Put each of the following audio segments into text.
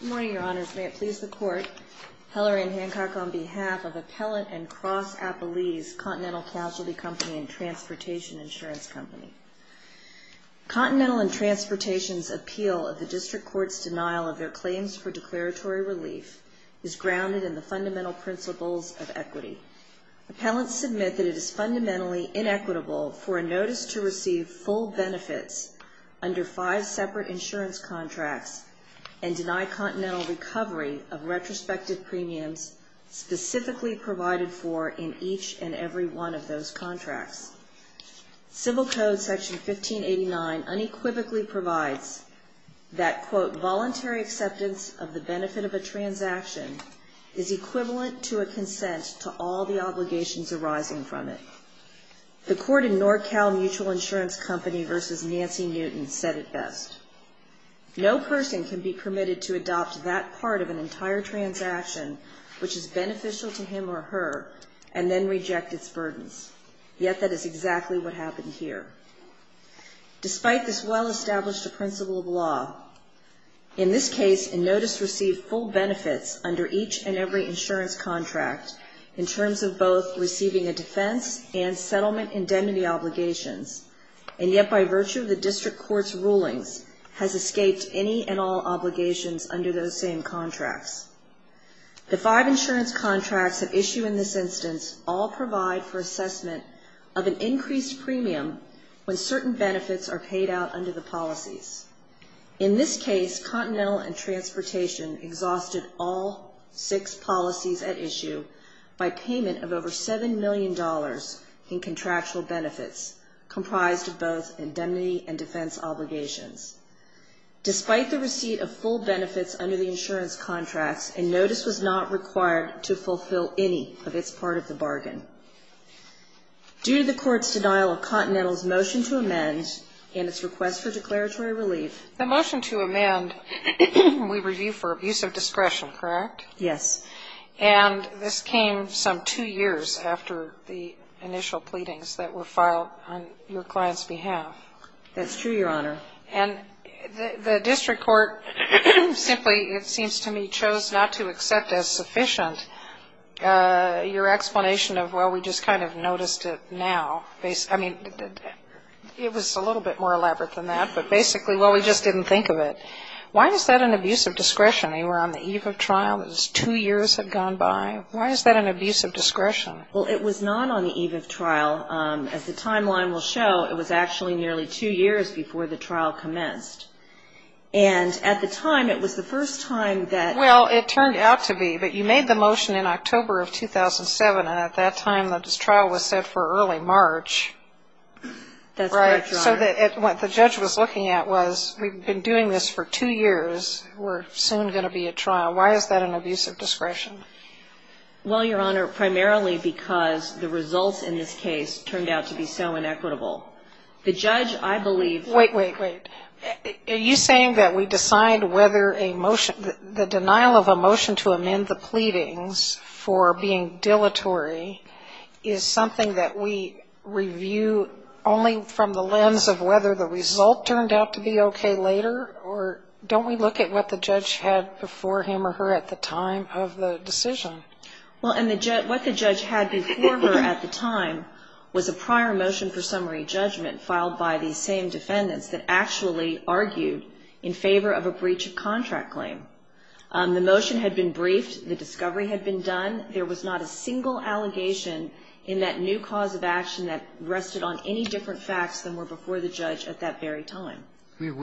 Good morning, Your Honors. May it please the Court, Hillary Ann Hancock on behalf of Appellant and Cross Appellees, Continental Casualty Company and Transportation Insurance Company. Continental and Transportation's appeal of the District Court's denial of their claims for declaratory relief is grounded in the fundamental principles of equity. Appellants submit that it is fundamentally inequitable for a notice to receive full benefits under five separate insurance contracts and deny continental recovery of retrospective premiums specifically provided for in each and every one of those contracts. Civil Code Section 1589 unequivocally provides that, quote, voluntary acceptance of the benefit of a transaction is equivalent to a consent to all the obligations arising from it. The court in NorCal Mutual Insurance Company v. Nancy Newton said it best. No person can be permitted to adopt that part of an entire transaction which is beneficial to him or her and then reject its burdens. Yet that is exactly what happened here. Despite this well-established principle of law, in this case a notice received full benefits under each and every insurance contract in terms of both receiving a defense and settlement indemnity obligations, and yet by virtue of the District Court's rulings has escaped any and all obligations under those same contracts. The five insurance contracts at issue in this instance all provide for assessment of an increased premium when certain benefits are paid out under the policies. In this case, Continental and Transportation exhausted all six policies at issue by payment of over $7 million in contractual benefits comprised of both indemnity and defense obligations. Despite the receipt of full benefits under the insurance contracts, a notice was not required to fulfill any of its part of the bargain. Due to the Court's denial of Continental's motion to amend and its request for declaratory relief The motion to amend we review for abuse of discretion, correct? Yes. And this came some two years after the initial pleadings that were filed on your client's behalf. That's true, Your Honor. And the District Court simply, it seems to me, chose not to accept as sufficient your explanation of, well, we just kind of noticed it now. I mean, it was a little bit more elaborate than that, but basically, well, we just didn't think of it. Why is that an abuse of discretion? You were on the eve of trial, it was two years had gone by. Why is that an abuse of discretion? Well, it was not on the eve of trial. As the timeline will show, it was actually nearly two years before the trial commenced. And at the time, it was the first time that Well, it turned out to be. But you made the motion in October of 2007, and at that time, this trial was set for early March. That's right, Your Honor. So what the judge was looking at was, we've been doing this for two years, we're soon going to be at trial. Why is that an abuse of discretion? Well, Your Honor, primarily because the results in this case turned out to be so inequitable. The judge, I believe Wait, wait, wait. Are you saying that we decide whether a motion, the denial of a motion to amend the pleadings for being dilatory is something that we review only from the lens of whether the result turned out to be okay later? Or don't we look at what the judge had before him or her at the time of the decision? Well, what the judge had before her at the time was a prior motion for summary defendants that actually argued in favor of a breach of contract claim. The motion had been briefed. The discovery had been done. There was not a single allegation in that new cause of action that rested on any different facts than were before the judge at that very time. It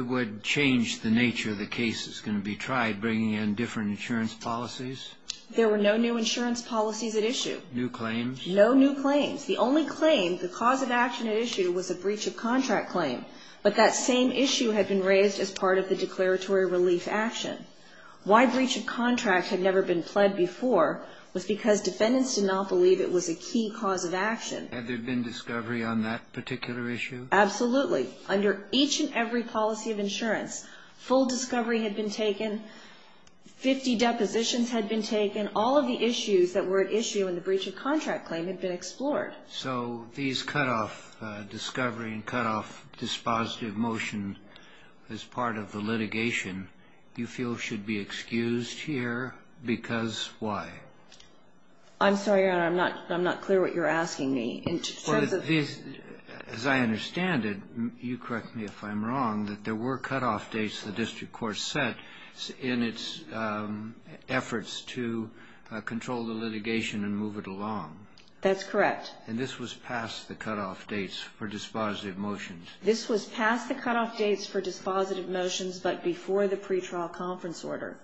would change the nature of the case that's going to be tried, bringing in different insurance policies? There were no new insurance policies at issue. New claims? No new claims. The only claim, the cause of action at issue, was a breach of contract claim. But that same issue had been raised as part of the declaratory relief action. Why breach of contract had never been pled before was because defendants did not believe it was a key cause of action. Had there been discovery on that particular issue? Absolutely. Under each and every policy of insurance, full discovery had been taken, 50 depositions had been taken, all of the issues that were at issue in the breach of contract claim had been explored. So these cutoff discovery and cutoff dispositive motion as part of the litigation you feel should be excused here because why? I'm sorry, Your Honor. I'm not clear what you're asking me. As I understand it, you correct me if I'm wrong, that there were cutoff dates the district court set in its efforts to control the litigation and move it along. That's correct. And this was past the cutoff dates for dispositive motions. This was past the cutoff dates for dispositive motions, but before the pretrial conference order.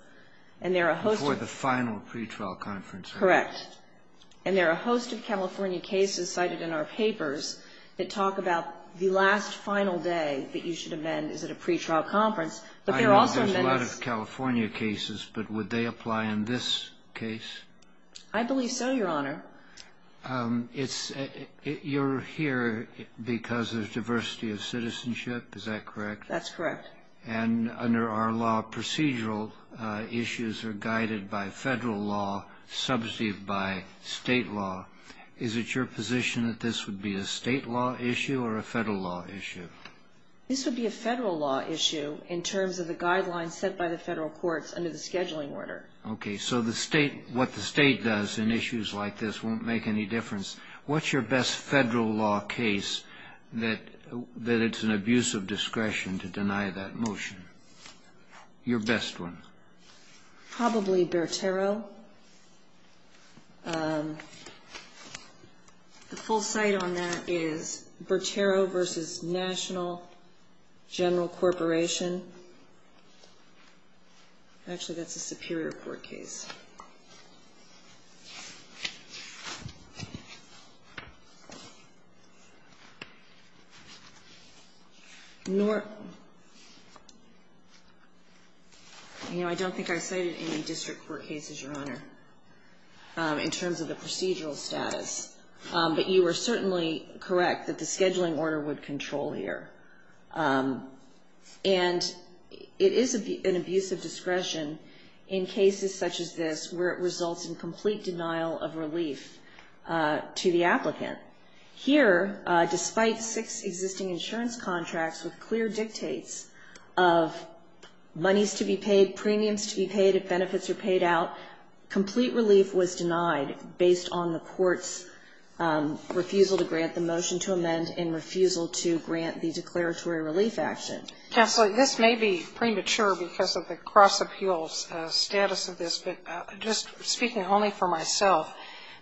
Before the final pretrial conference order. Correct. And there are a host of California cases cited in our papers that talk about the last final day that you should amend is at a pretrial conference, but there are also amendments. I know there's a lot of California cases, but would they apply in this case? I believe so, Your Honor. Your Honor, you're here because of diversity of citizenship, is that correct? That's correct. And under our law, procedural issues are guided by federal law, substantive by state law. Is it your position that this would be a state law issue or a federal law issue? This would be a federal law issue in terms of the guidelines set by the federal courts under the scheduling order. Okay. So the state, what the state does in issues like this won't make any difference. What's your best federal law case that it's an abuse of discretion to deny that motion? Your best one. Probably Bertero. The full site on that is Bertero v. National General Corporation. Actually, that's a Superior Court case. You know, I don't think I cited any district court cases, Your Honor, in terms of the procedural status. But you are certainly correct that the scheduling order would control here. And it is an abuse of discretion in cases such as this where it results in complete denial of relief to the applicant. Here, despite six existing insurance contracts with clear dictates of monies to be paid, premiums to be paid, if benefits are paid out, complete relief was denied based on the court's refusal to grant the motion to action. Counsel, this may be premature because of the cross-appeals status of this. But just speaking only for myself,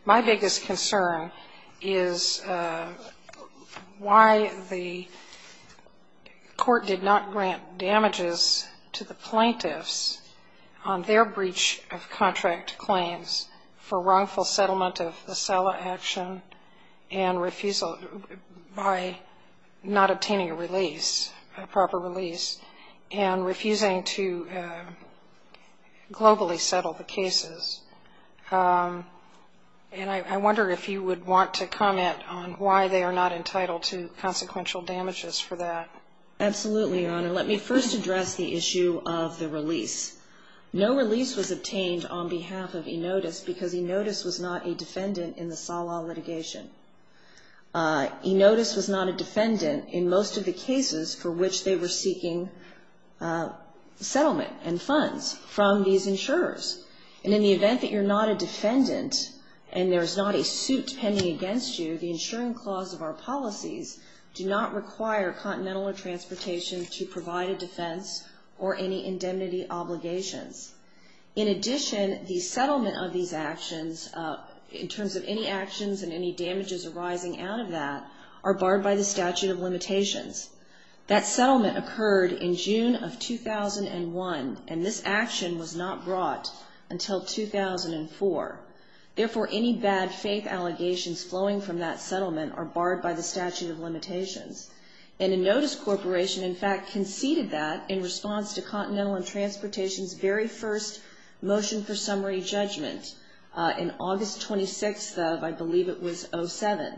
my biggest concern is why the court did not grant damages to the plaintiffs on their breach of contract claims for wrongful settlement of a proper release and refusing to globally settle the cases. And I wonder if you would want to comment on why they are not entitled to consequential damages for that. Absolutely, Your Honor. Let me first address the issue of the release. No release was obtained on behalf of Enotis because Enotis was not a defendant in the SALA litigation. Enotis was not a defendant in most of the cases for which they were seeking settlement and funds from these insurers. And in the event that you're not a defendant and there is not a suit pending against you, the insuring clause of our policies do not require Continental Transportation to provide a defense or any indemnity obligations. In addition, the settlement of these actions, in terms of any actions and any damages arising out of that, are barred by the statute of limitations. That settlement occurred in June of 2001, and this action was not brought until 2004. Therefore, any bad faith allegations flowing from that settlement are barred by the statute of limitations. And Enotis Corporation, in fact, conceded that in response to Continental Transportation's very first motion for summary judgment in August 26th of, I believe it was, 07,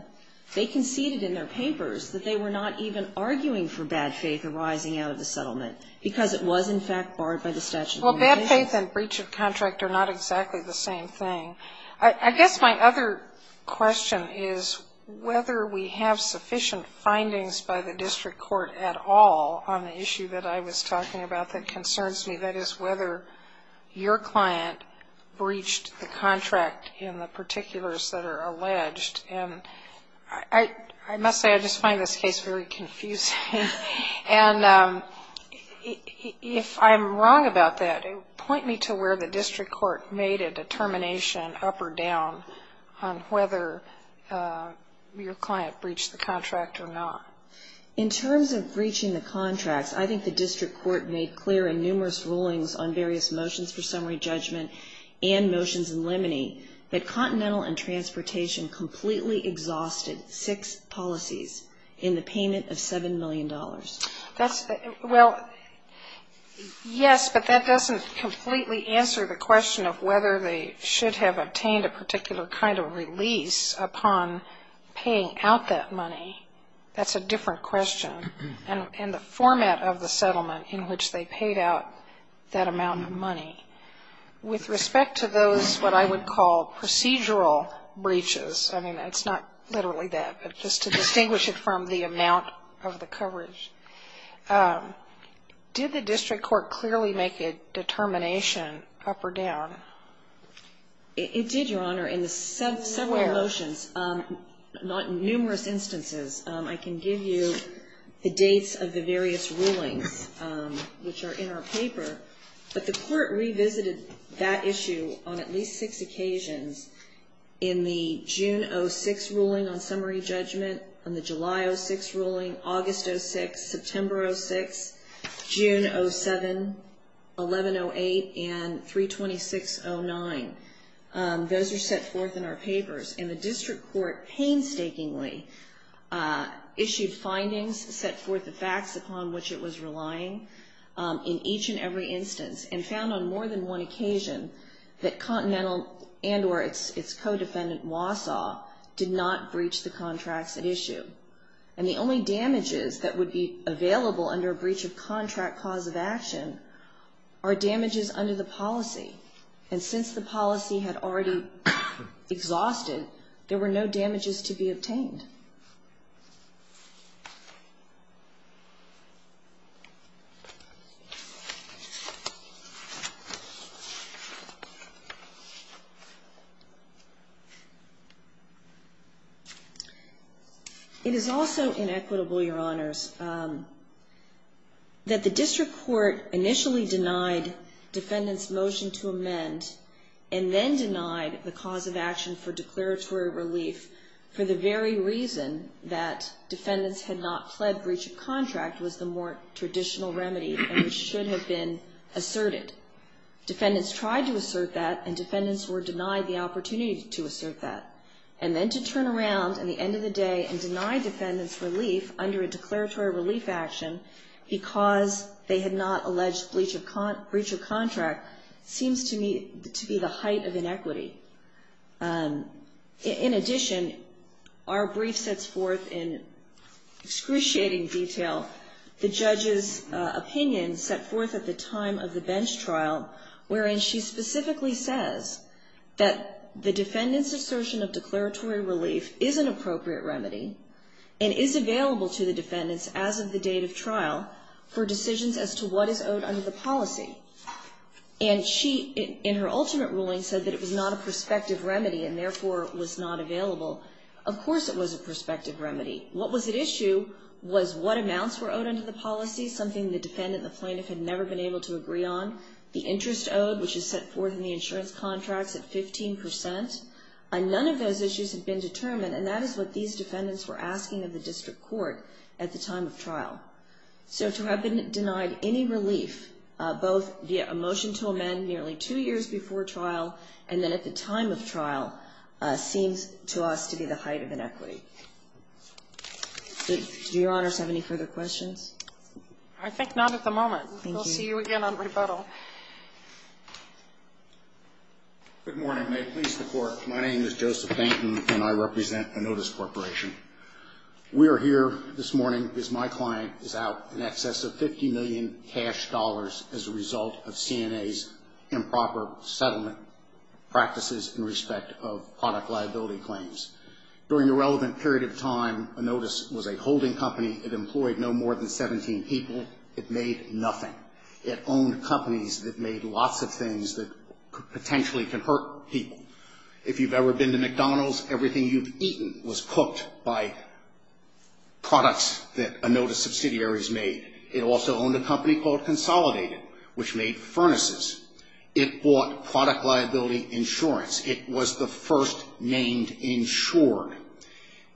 they conceded in their papers that they were not even arguing for bad faith arising out of the settlement because it was, in fact, barred by the statute of limitations. Well, bad faith and breach of contract are not exactly the same thing. I guess my other question is whether we have sufficient findings by the district court at all on the issue that I was talking about that concerns me. That is, whether your client breached the contract in the particulars that are alleged. And I must say, I just find this case very confusing. And if I'm wrong about that, point me to where the district court made a determination up or down on whether your client breached the contract or not. In terms of breaching the contracts, I think the district court made clear in numerous rulings on various motions for summary judgment and motions in limine, that Continental and Transportation completely exhausted six policies in the payment of $7 million. Well, yes, but that doesn't completely answer the question of whether they should have obtained a particular kind of release upon paying out that money. That's a different question. And the format of the settlement in which they paid out that amount of money. With respect to those what I would call procedural breaches, I mean, it's not literally that, but just to distinguish it from the amount of the coverage, did the district court clearly make a determination up or down? It did, Your Honor. In several motions, not numerous instances, I can give you the dates of the various rulings which are in our paper. But the court revisited that issue on at least six occasions in the June 06 ruling on summary judgment, on the July 06 ruling, August 06, September 06, June 07, 1108, and 32609. Those are set forth in our papers. And the district court painstakingly issued findings, set forth the facts upon which it was relying in each and every instance, and found on more than one occasion that Continental and or its co-defendant Wausau did not breach the contracts at issue. And the only damages that would be available under a breach of contract cause of action are damages under the policy. And since the policy had already exhausted, there were no damages to be obtained. It is also inequitable, Your Honors, that the district court initially denied defendants' motion to amend, and then denied the cause of action for declaratory relief for the very reason that defendants had not fled breach of contract was the more traditional remedy, and it should have been asserted. Defendants tried to assert that, and defendants were denied the opportunity to assert that, and then to turn around at the end of the day and deny defendants' relief under a declaratory relief action because they had not fled breach of contract seems to me to be the height of inequity. In addition, our brief sets forth in excruciating detail the judge's opinion set forth at the time of the bench trial, wherein she specifically says that the defendant's assertion of declaratory relief is an appropriate remedy, and is owed under the policy. And she, in her ultimate ruling, said that it was not a prospective remedy, and therefore was not available. Of course it was a prospective remedy. What was at issue was what amounts were owed under the policy, something the defendant, the plaintiff, had never been able to agree on. The interest owed, which is set forth in the insurance contracts at 15 percent. None of those issues had been determined, and that is what these defendants were asking of the district court at the time of trial. So to have been denied any relief, both via a motion to amend nearly two years before trial, and then at the time of trial, seems to us to be the height of inequity. Do Your Honors have any further questions? I think not at the moment. Thank you. We'll see you again on rebuttal. Good morning. May it please the Court, my name is Joseph Fenton, and I represent Anotis Corporation. We are here this morning because my client is out in excess of 50 million cash dollars as a result of CNA's improper settlement practices in respect of product liability claims. During the relevant period of time, Anotis was a holding company. It employed no more than 17 people. It made nothing. It owned companies that made lots of things that potentially can hurt people. If you've ever been to McDonald's, everything you've eaten was cooked by products that Anotis subsidiaries made. It also owned a company called Consolidated, which made furnaces. It bought product liability insurance. It was the first named insured.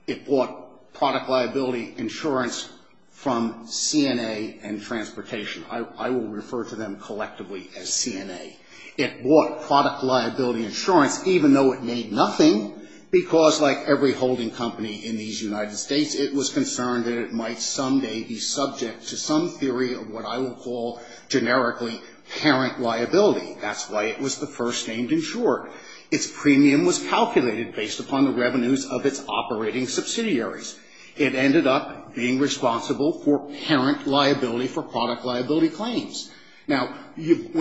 It bought product liability insurance from CNA and Transportation. I will refer to them collectively as CNA. It bought product liability insurance, even though it made nothing, because like every holding company in these United States, it was concerned that it might someday be subject to some theory of what I will call generically parent liability. That's why it was the first named insured. Its premium was calculated based upon the revenues of its operating subsidiaries. It ended up being responsible for parent liability for product liability claims. And if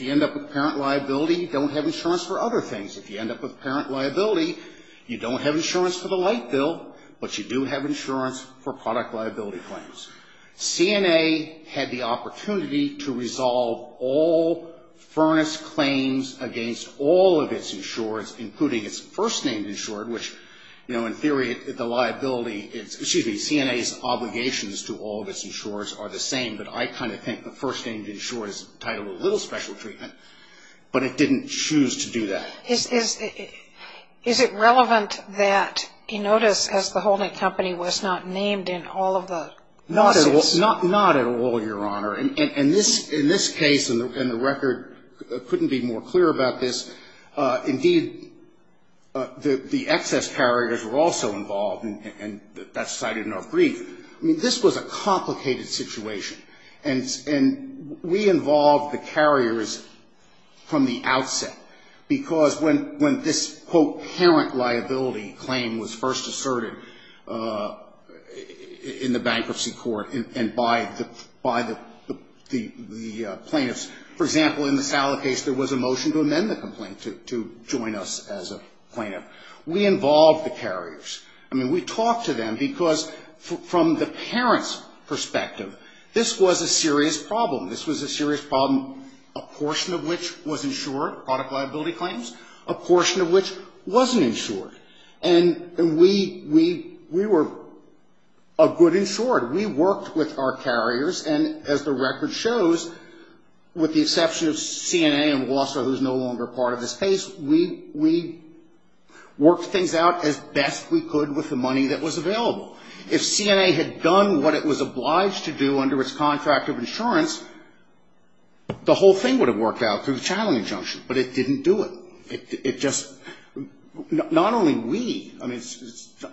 you end up with parent liability, you don't have insurance for other things. If you end up with parent liability, you don't have insurance for the light bill, but you do have insurance for product liability claims. CNA had the opportunity to resolve all furnace claims against all of its insureds, including its first named insured, which, you know, in theory, the liability, excuse me, CNA's obligations to all of its insureds are the same, but I kind of think the first named insured is entitled to a little special treatment, but it didn't choose to do that. Is it relevant that Enotis, as the holding company, was not named in all of the lawsuits? Not at all, Your Honor. In this case, and the record couldn't be more clear about this, indeed, the excess carriers were also involved, and that's cited in our brief. I mean, this was a complicated situation, and we involved the carriers from the outset, because when this, quote, parent liability claim was first asserted in the bankruptcy court and by the plaintiffs, for example, in the Sala case, there was a motion to amend the complaint, to join us as a plaintiff. We involved the carriers. I mean, we talked from the parent's perspective. This was a serious problem. This was a serious problem, a portion of which was insured, product liability claims, a portion of which wasn't insured, and we were a good insured. We worked with our carriers, and as the record shows, with the exception of CNA and Wasser, who's no longer part of this case, we worked things out as best we could with the money that was available. If CNA had done what it was obliged to do under its contract of insurance, the whole thing would have worked out through the challenge injunction, but it didn't do it. It just, not only we, I mean,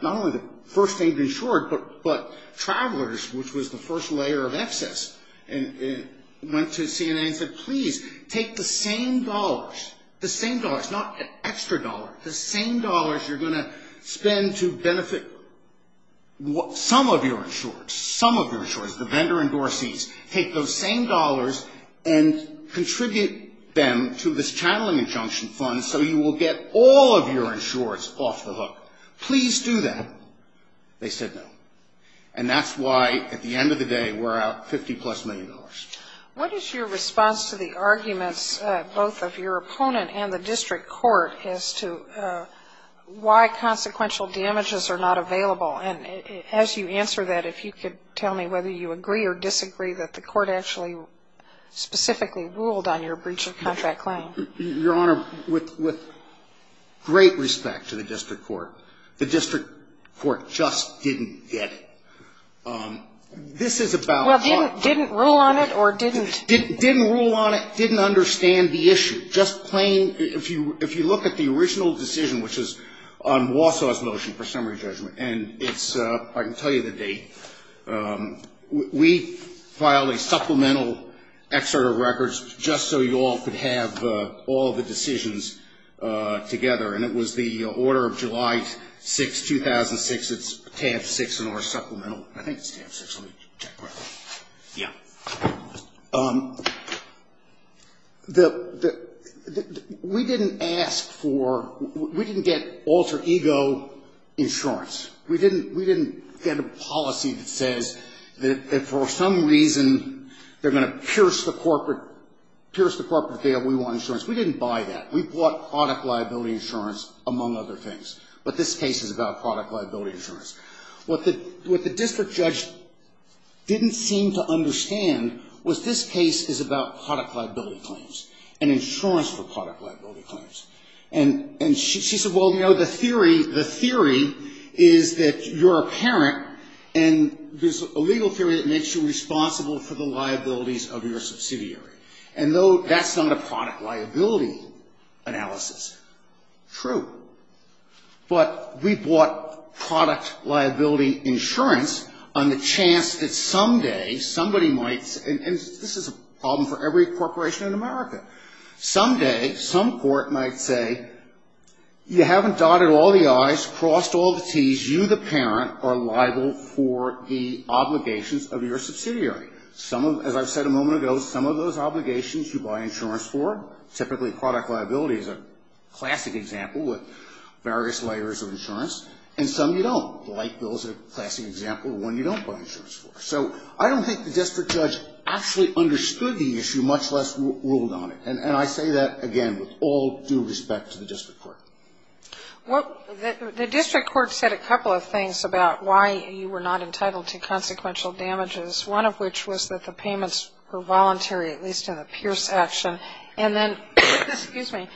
not only the first aid insured, but travelers, which was the first layer of excess, went to CNA and said, please, take the same dollars, the same dollars, not extra dollars, the same dollars you're going to spend to benefit some of your insurers, some of your insurers, the vendor and door seats, take those same dollars and contribute them to this channeling injunction fund so you will get all of your insurers off the hook. Please do that. They said no. And that's why at the end of the day we're out $50-plus million. What is your response to the arguments both of your opponent and the district court as to why consequential damages are not available? And as you answer that, if you could tell me whether you agree or disagree that the court actually specifically ruled on your breach of contract claim. Your Honor, with great respect to the district court, the district court just didn't get it. This is about why. Well, didn't rule on it or didn't? Didn't rule on it, didn't understand the issue. Just plain, if you look at the original decision, which is on Wausau's motion for summary judgment, and it's, I can tell you the date, we filed a supplemental excerpt of records just so you all could have all the decisions together, and it was the order of July 6, 2006. It's tab 6 in our supplemental. I think it's tab 6. Let me check. Yeah. We didn't ask for, we didn't get alter ego insurance. We didn't get a policy that says that for some reason they're going to pierce the corporate, pierce the corporate deal and we want insurance. We didn't buy that. We bought product liability insurance, among other things. But this case is about product liability insurance. What the district judge didn't seem to understand was this case is about product liability claims and insurance for product liability claims. And she said, well, you know, the theory, the theory is that you're a parent and there's a legal theory that makes you responsible for the liabilities of your subsidiary. And no, that's not a product liability analysis. True. But we bought product liability insurance on the chance that someday somebody might, and this is a problem for every corporation in America, someday some court might say you haven't dotted all the I's, crossed all the T's, because you, the parent, are liable for the obligations of your subsidiary. Some of, as I've said a moment ago, some of those obligations you buy insurance for, typically product liability is a classic example with various layers of insurance. And some you don't. The light bill is a classic example of one you don't buy insurance for. So I don't think the district judge actually understood the issue, much less ruled on it. And I say that, again, with all due respect to the district court. The district court said a couple of things about why you were not entitled to consequential damages, one of which was that the payments were voluntary, at least in the Pierce action. And then, excuse me,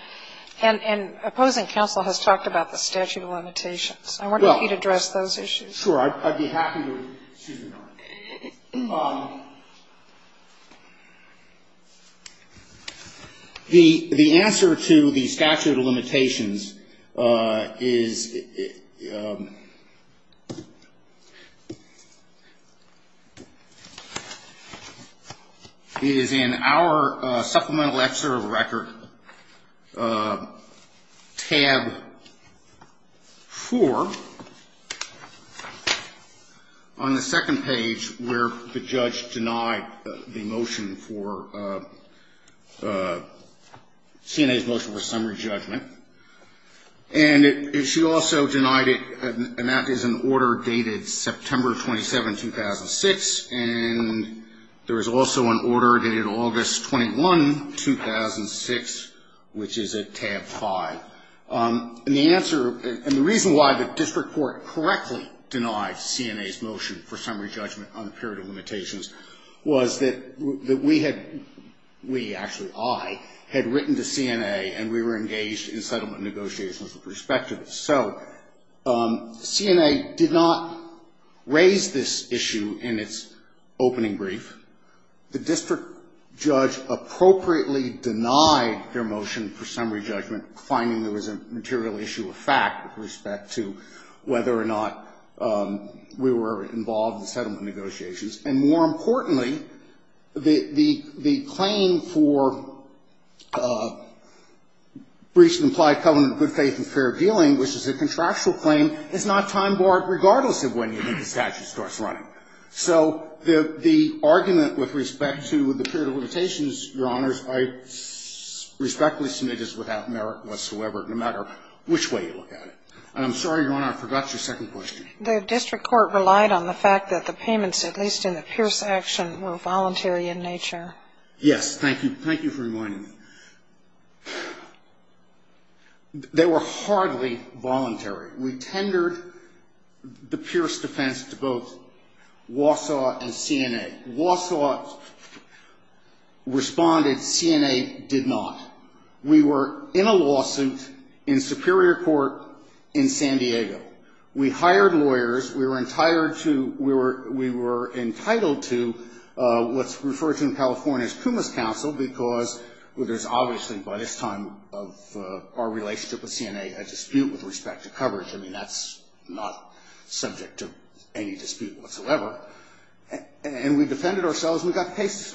and opposing counsel has talked about the statute of limitations. I wonder if you'd address those issues. Sure, I'd be happy to. The answer to the statute of limitations is in our supplemental extra record tab 4, on the second page where the judge denied the motion for, CNA's motion for summary judgment. And she also denied it, and that is an order dated September 27, 2006. And there is also an order dated August 21, 2006, which is at tab 5. And the answer, and the reason why the district court correctly denied CNA's motion for summary judgment on the period of limitations was that we had, we, actually I, had written to CNA, and we were engaged in settlement negotiations with respect to this. So CNA did not raise this issue in its opening brief. The district judge appropriately denied their motion for summary judgment, finding there was a material issue of fact with respect to whether or not we were involved in settlement negotiations. And more importantly, the claim for breach of implied covenant of good faith and fair dealing, which is a contractual claim, is not time-barred regardless of when you think the statute starts running. So the argument with respect to the period of limitations, Your Honors, I respectfully submit is without merit whatsoever, no matter which way you look at it. And I'm sorry, Your Honor, I forgot your second question. The district court relied on the fact that the payments, at least in the Pierce action, were voluntary in nature. Yes. Thank you. Thank you for reminding me. They were hardly voluntary. We tendered the Pierce defense to both Wausau and CNA. Wausau responded. CNA did not. We were in a lawsuit in Superior Court in San Diego. We hired lawyers. We were entitled to what's referred to in California as Puma's counsel, because there's obviously by this time of our relationship with CNA a dispute with respect to coverage. I mean, that's not subject to any dispute whatsoever. And we defended ourselves and we got the case that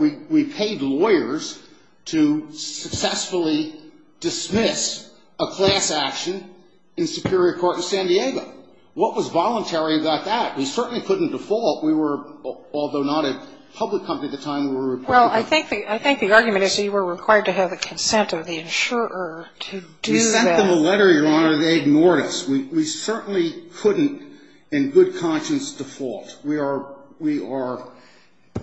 we needed lawyers to successfully dismiss a class action in Superior Court in San Diego. What was voluntary about that? We certainly couldn't default. We were, although not a public company at the time, we were a private company. Well, I think the argument is that you were required to have the consent of the insurer to do that. We sent them a letter, Your Honor, and they ignored us. We certainly couldn't in good conscience default. We are, we are, I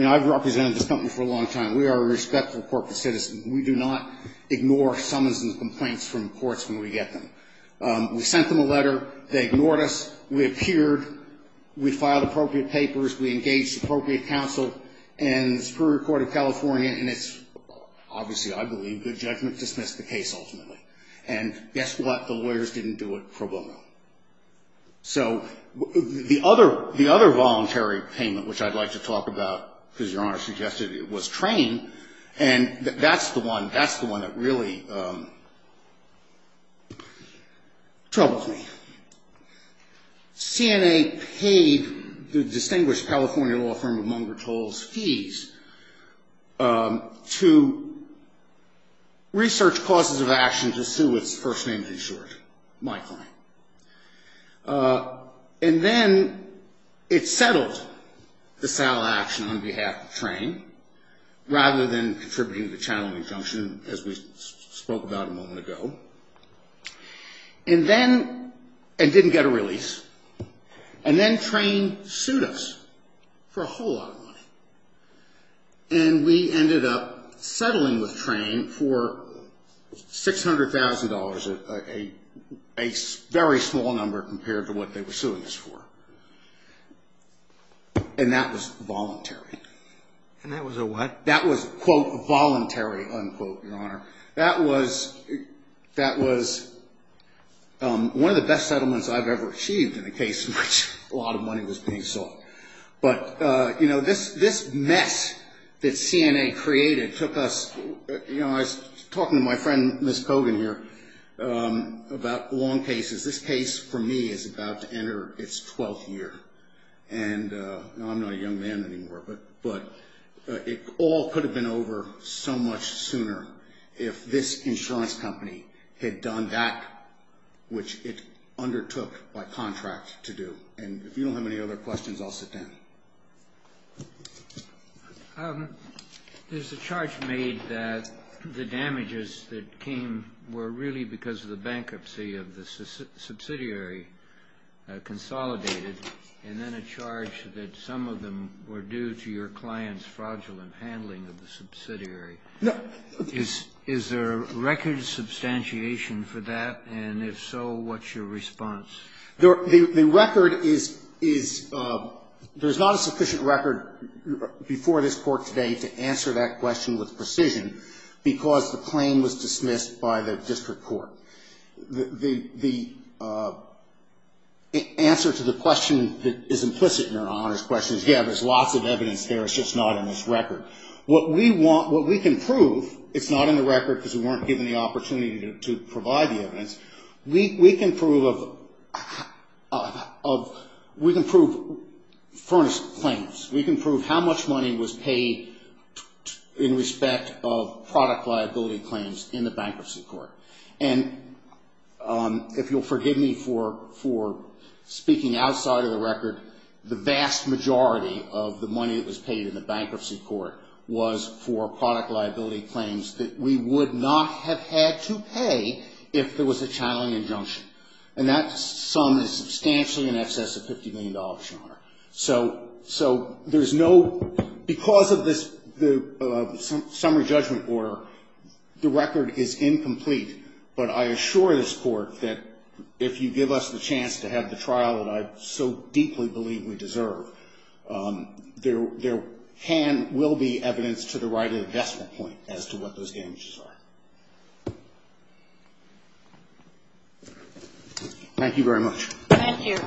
mean, I've represented this company for a long time. We are a respectful corporate citizen. We do not ignore summons and complaints from courts when we get them. We sent them a letter. They ignored us. We appeared. We filed appropriate papers. We engaged appropriate counsel in Superior Court of California, and it's obviously, I believe, good judgment to dismiss the case ultimately. And guess what? The lawyers didn't do it pro bono. So the other, the other voluntary payment, which I'd like to talk about, because Your Honor suggested it was trained, and that's the one, that's the one that really troubles me. CNA paid the distinguished California law firm, among their tolls, fees to research causes of action to sue its first name insured. My client. And then it settled the sale of action on behalf of train rather than contributing to the channeling junction, as we spoke about a moment ago. And then, and didn't get a release. And then train sued us for a whole lot of money. And we ended up settling with train for $600,000, a very small number compared to what they were suing us for. And that was voluntary. And that was a what? That was, quote, voluntary, unquote, Your Honor. That was, that was one of the best settlements I've ever achieved in a case in which a lot of money was being sought. But, you know, this mess that CNA created took us, you know, I was talking to my friend, Ms. Kogan here, about long cases. This case, for me, is about to enter its 12th year. And I'm not a young man anymore, but it all could have been over so much sooner if this insurance company had done that, which it undertook by contract to do. And if you don't have any other questions, I'll sit down. There's a charge made that the damages that came were really because of the bankruptcy of the subsidiary consolidated, and then a charge that some of them were due to your client's fraudulent handling of the subsidiary. No. Is there record substantiation for that? And if so, what's your response? The record is, there's not a sufficient record before this Court today to answer that question with precision because the claim was dismissed by the district court. The answer to the question that is implicit in your Honor's question is, yeah, there's lots of evidence there, it's just not in this record. What we want, what we can prove, it's not in the record because we weren't given the opportunity to provide the evidence. We can prove furnace claims. We can prove how much money was paid in the bankruptcy court. And if you'll forgive me for speaking outside of the record, the vast majority of the money that was paid in the bankruptcy court was for product liability claims that we would not have had to pay if there was a channeling injunction. And that sum is substantially in excess of $50 million, Your Honor. So there's no, because of this summary judgment order, the record is incomplete. But I assure this Court that if you give us the chance to have the trial that I so deeply believe we deserve, there can, will be evidence to the right of the decimal point as to what those damages are. Thank you very much. Thank you.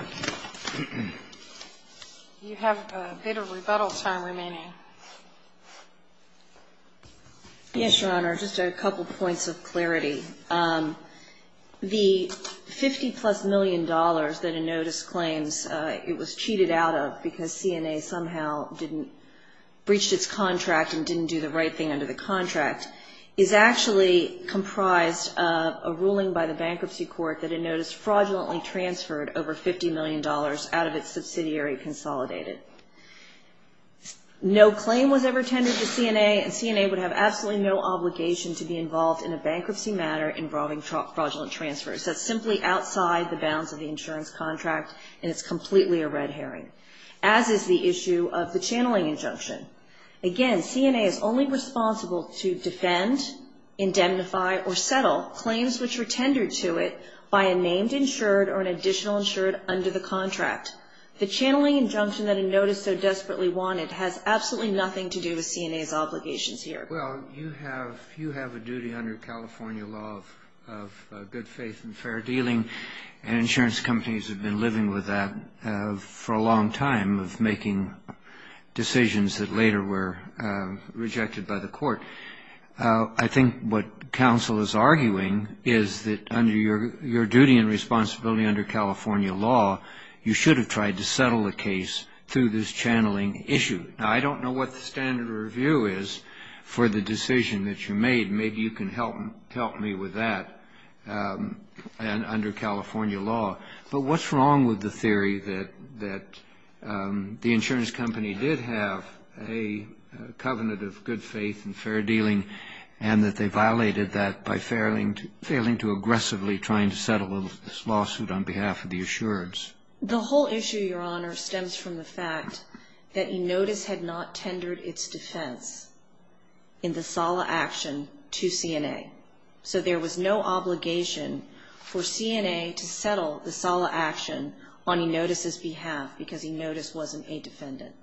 You have a bit of rebuttal time remaining. Yes, Your Honor. Just a couple points of clarity. The $50-plus million that a notice claims it was cheated out of because CNA somehow didn't, breached its contract and didn't do the right thing under the contract is actually comprised of a ruling by the bankruptcy court that a notice fraudulently transferred over $50 million out of its subsidiary consolidated. No claim was ever tendered to CNA, and CNA would have absolutely no obligation to be involved in a bankruptcy matter involving fraudulent transfers. That's simply outside the bounds of the insurance contract, and it's completely a red herring, as is the issue of the channeling injunction. Again, CNA is only responsible to defend, indemnify, or settle claims which were tendered to it by a named insured or an additional insured under the contract. The channeling injunction that a notice so desperately wanted has absolutely nothing to do with CNA's obligations here. Well, you have a duty under California law of good faith and fair dealing, and insurance companies have been living with that for a long time, of making decisions that later were rejected by the court. I think what counsel is arguing is that under your duty and responsibility under California law, you should have tried to settle a case through this channeling issue. Now, I don't know what the standard review is for the decision that you made. Maybe you can help me with that under California law. But what's wrong with the theory that the insurance company did have a covenant of good faith and fair dealing, and that they violated that by failing to aggressively trying to settle this lawsuit on behalf of the insureds? The whole issue, Your Honor, stems from the fact that E-Notice had not tendered its defense in the SALA action to CNA. So there was no obligation for CNA to settle the SALA action on E-Notice's behalf because E-Notice wasn't a defendant.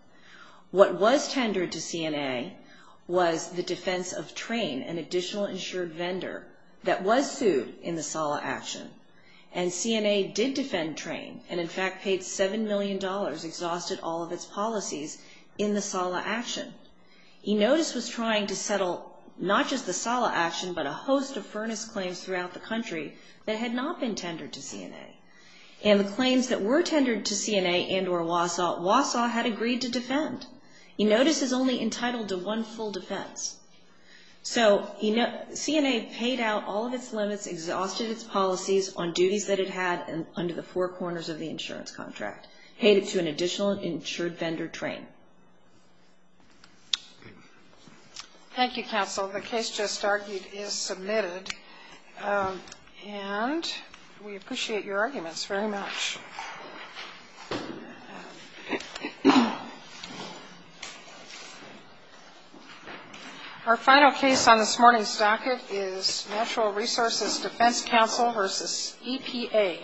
What was tendered to CNA was the defense of Trane, an additional insured vendor, that was sued in the SALA action. And CNA did defend Trane, and in fact paid $7 million, exhausted all of its policies, in the SALA action. E-Notice was trying to settle not just the SALA action, but a host of furnace claims throughout the country that had not been tendered to CNA. And the claims that were tendered to CNA and or WASAW, WASAW had agreed to defend. E-Notice is only entitled to one full defense. So CNA paid out all of its limits, exhausted its policies on duties that it had under the four corners of the insurance contract, paid it to an additional insured vendor, Trane. Thank you, counsel. The case just argued is submitted, and we appreciate your patience. Our final case on this morning's docket is Natural Resources Defense Counsel v. EPA.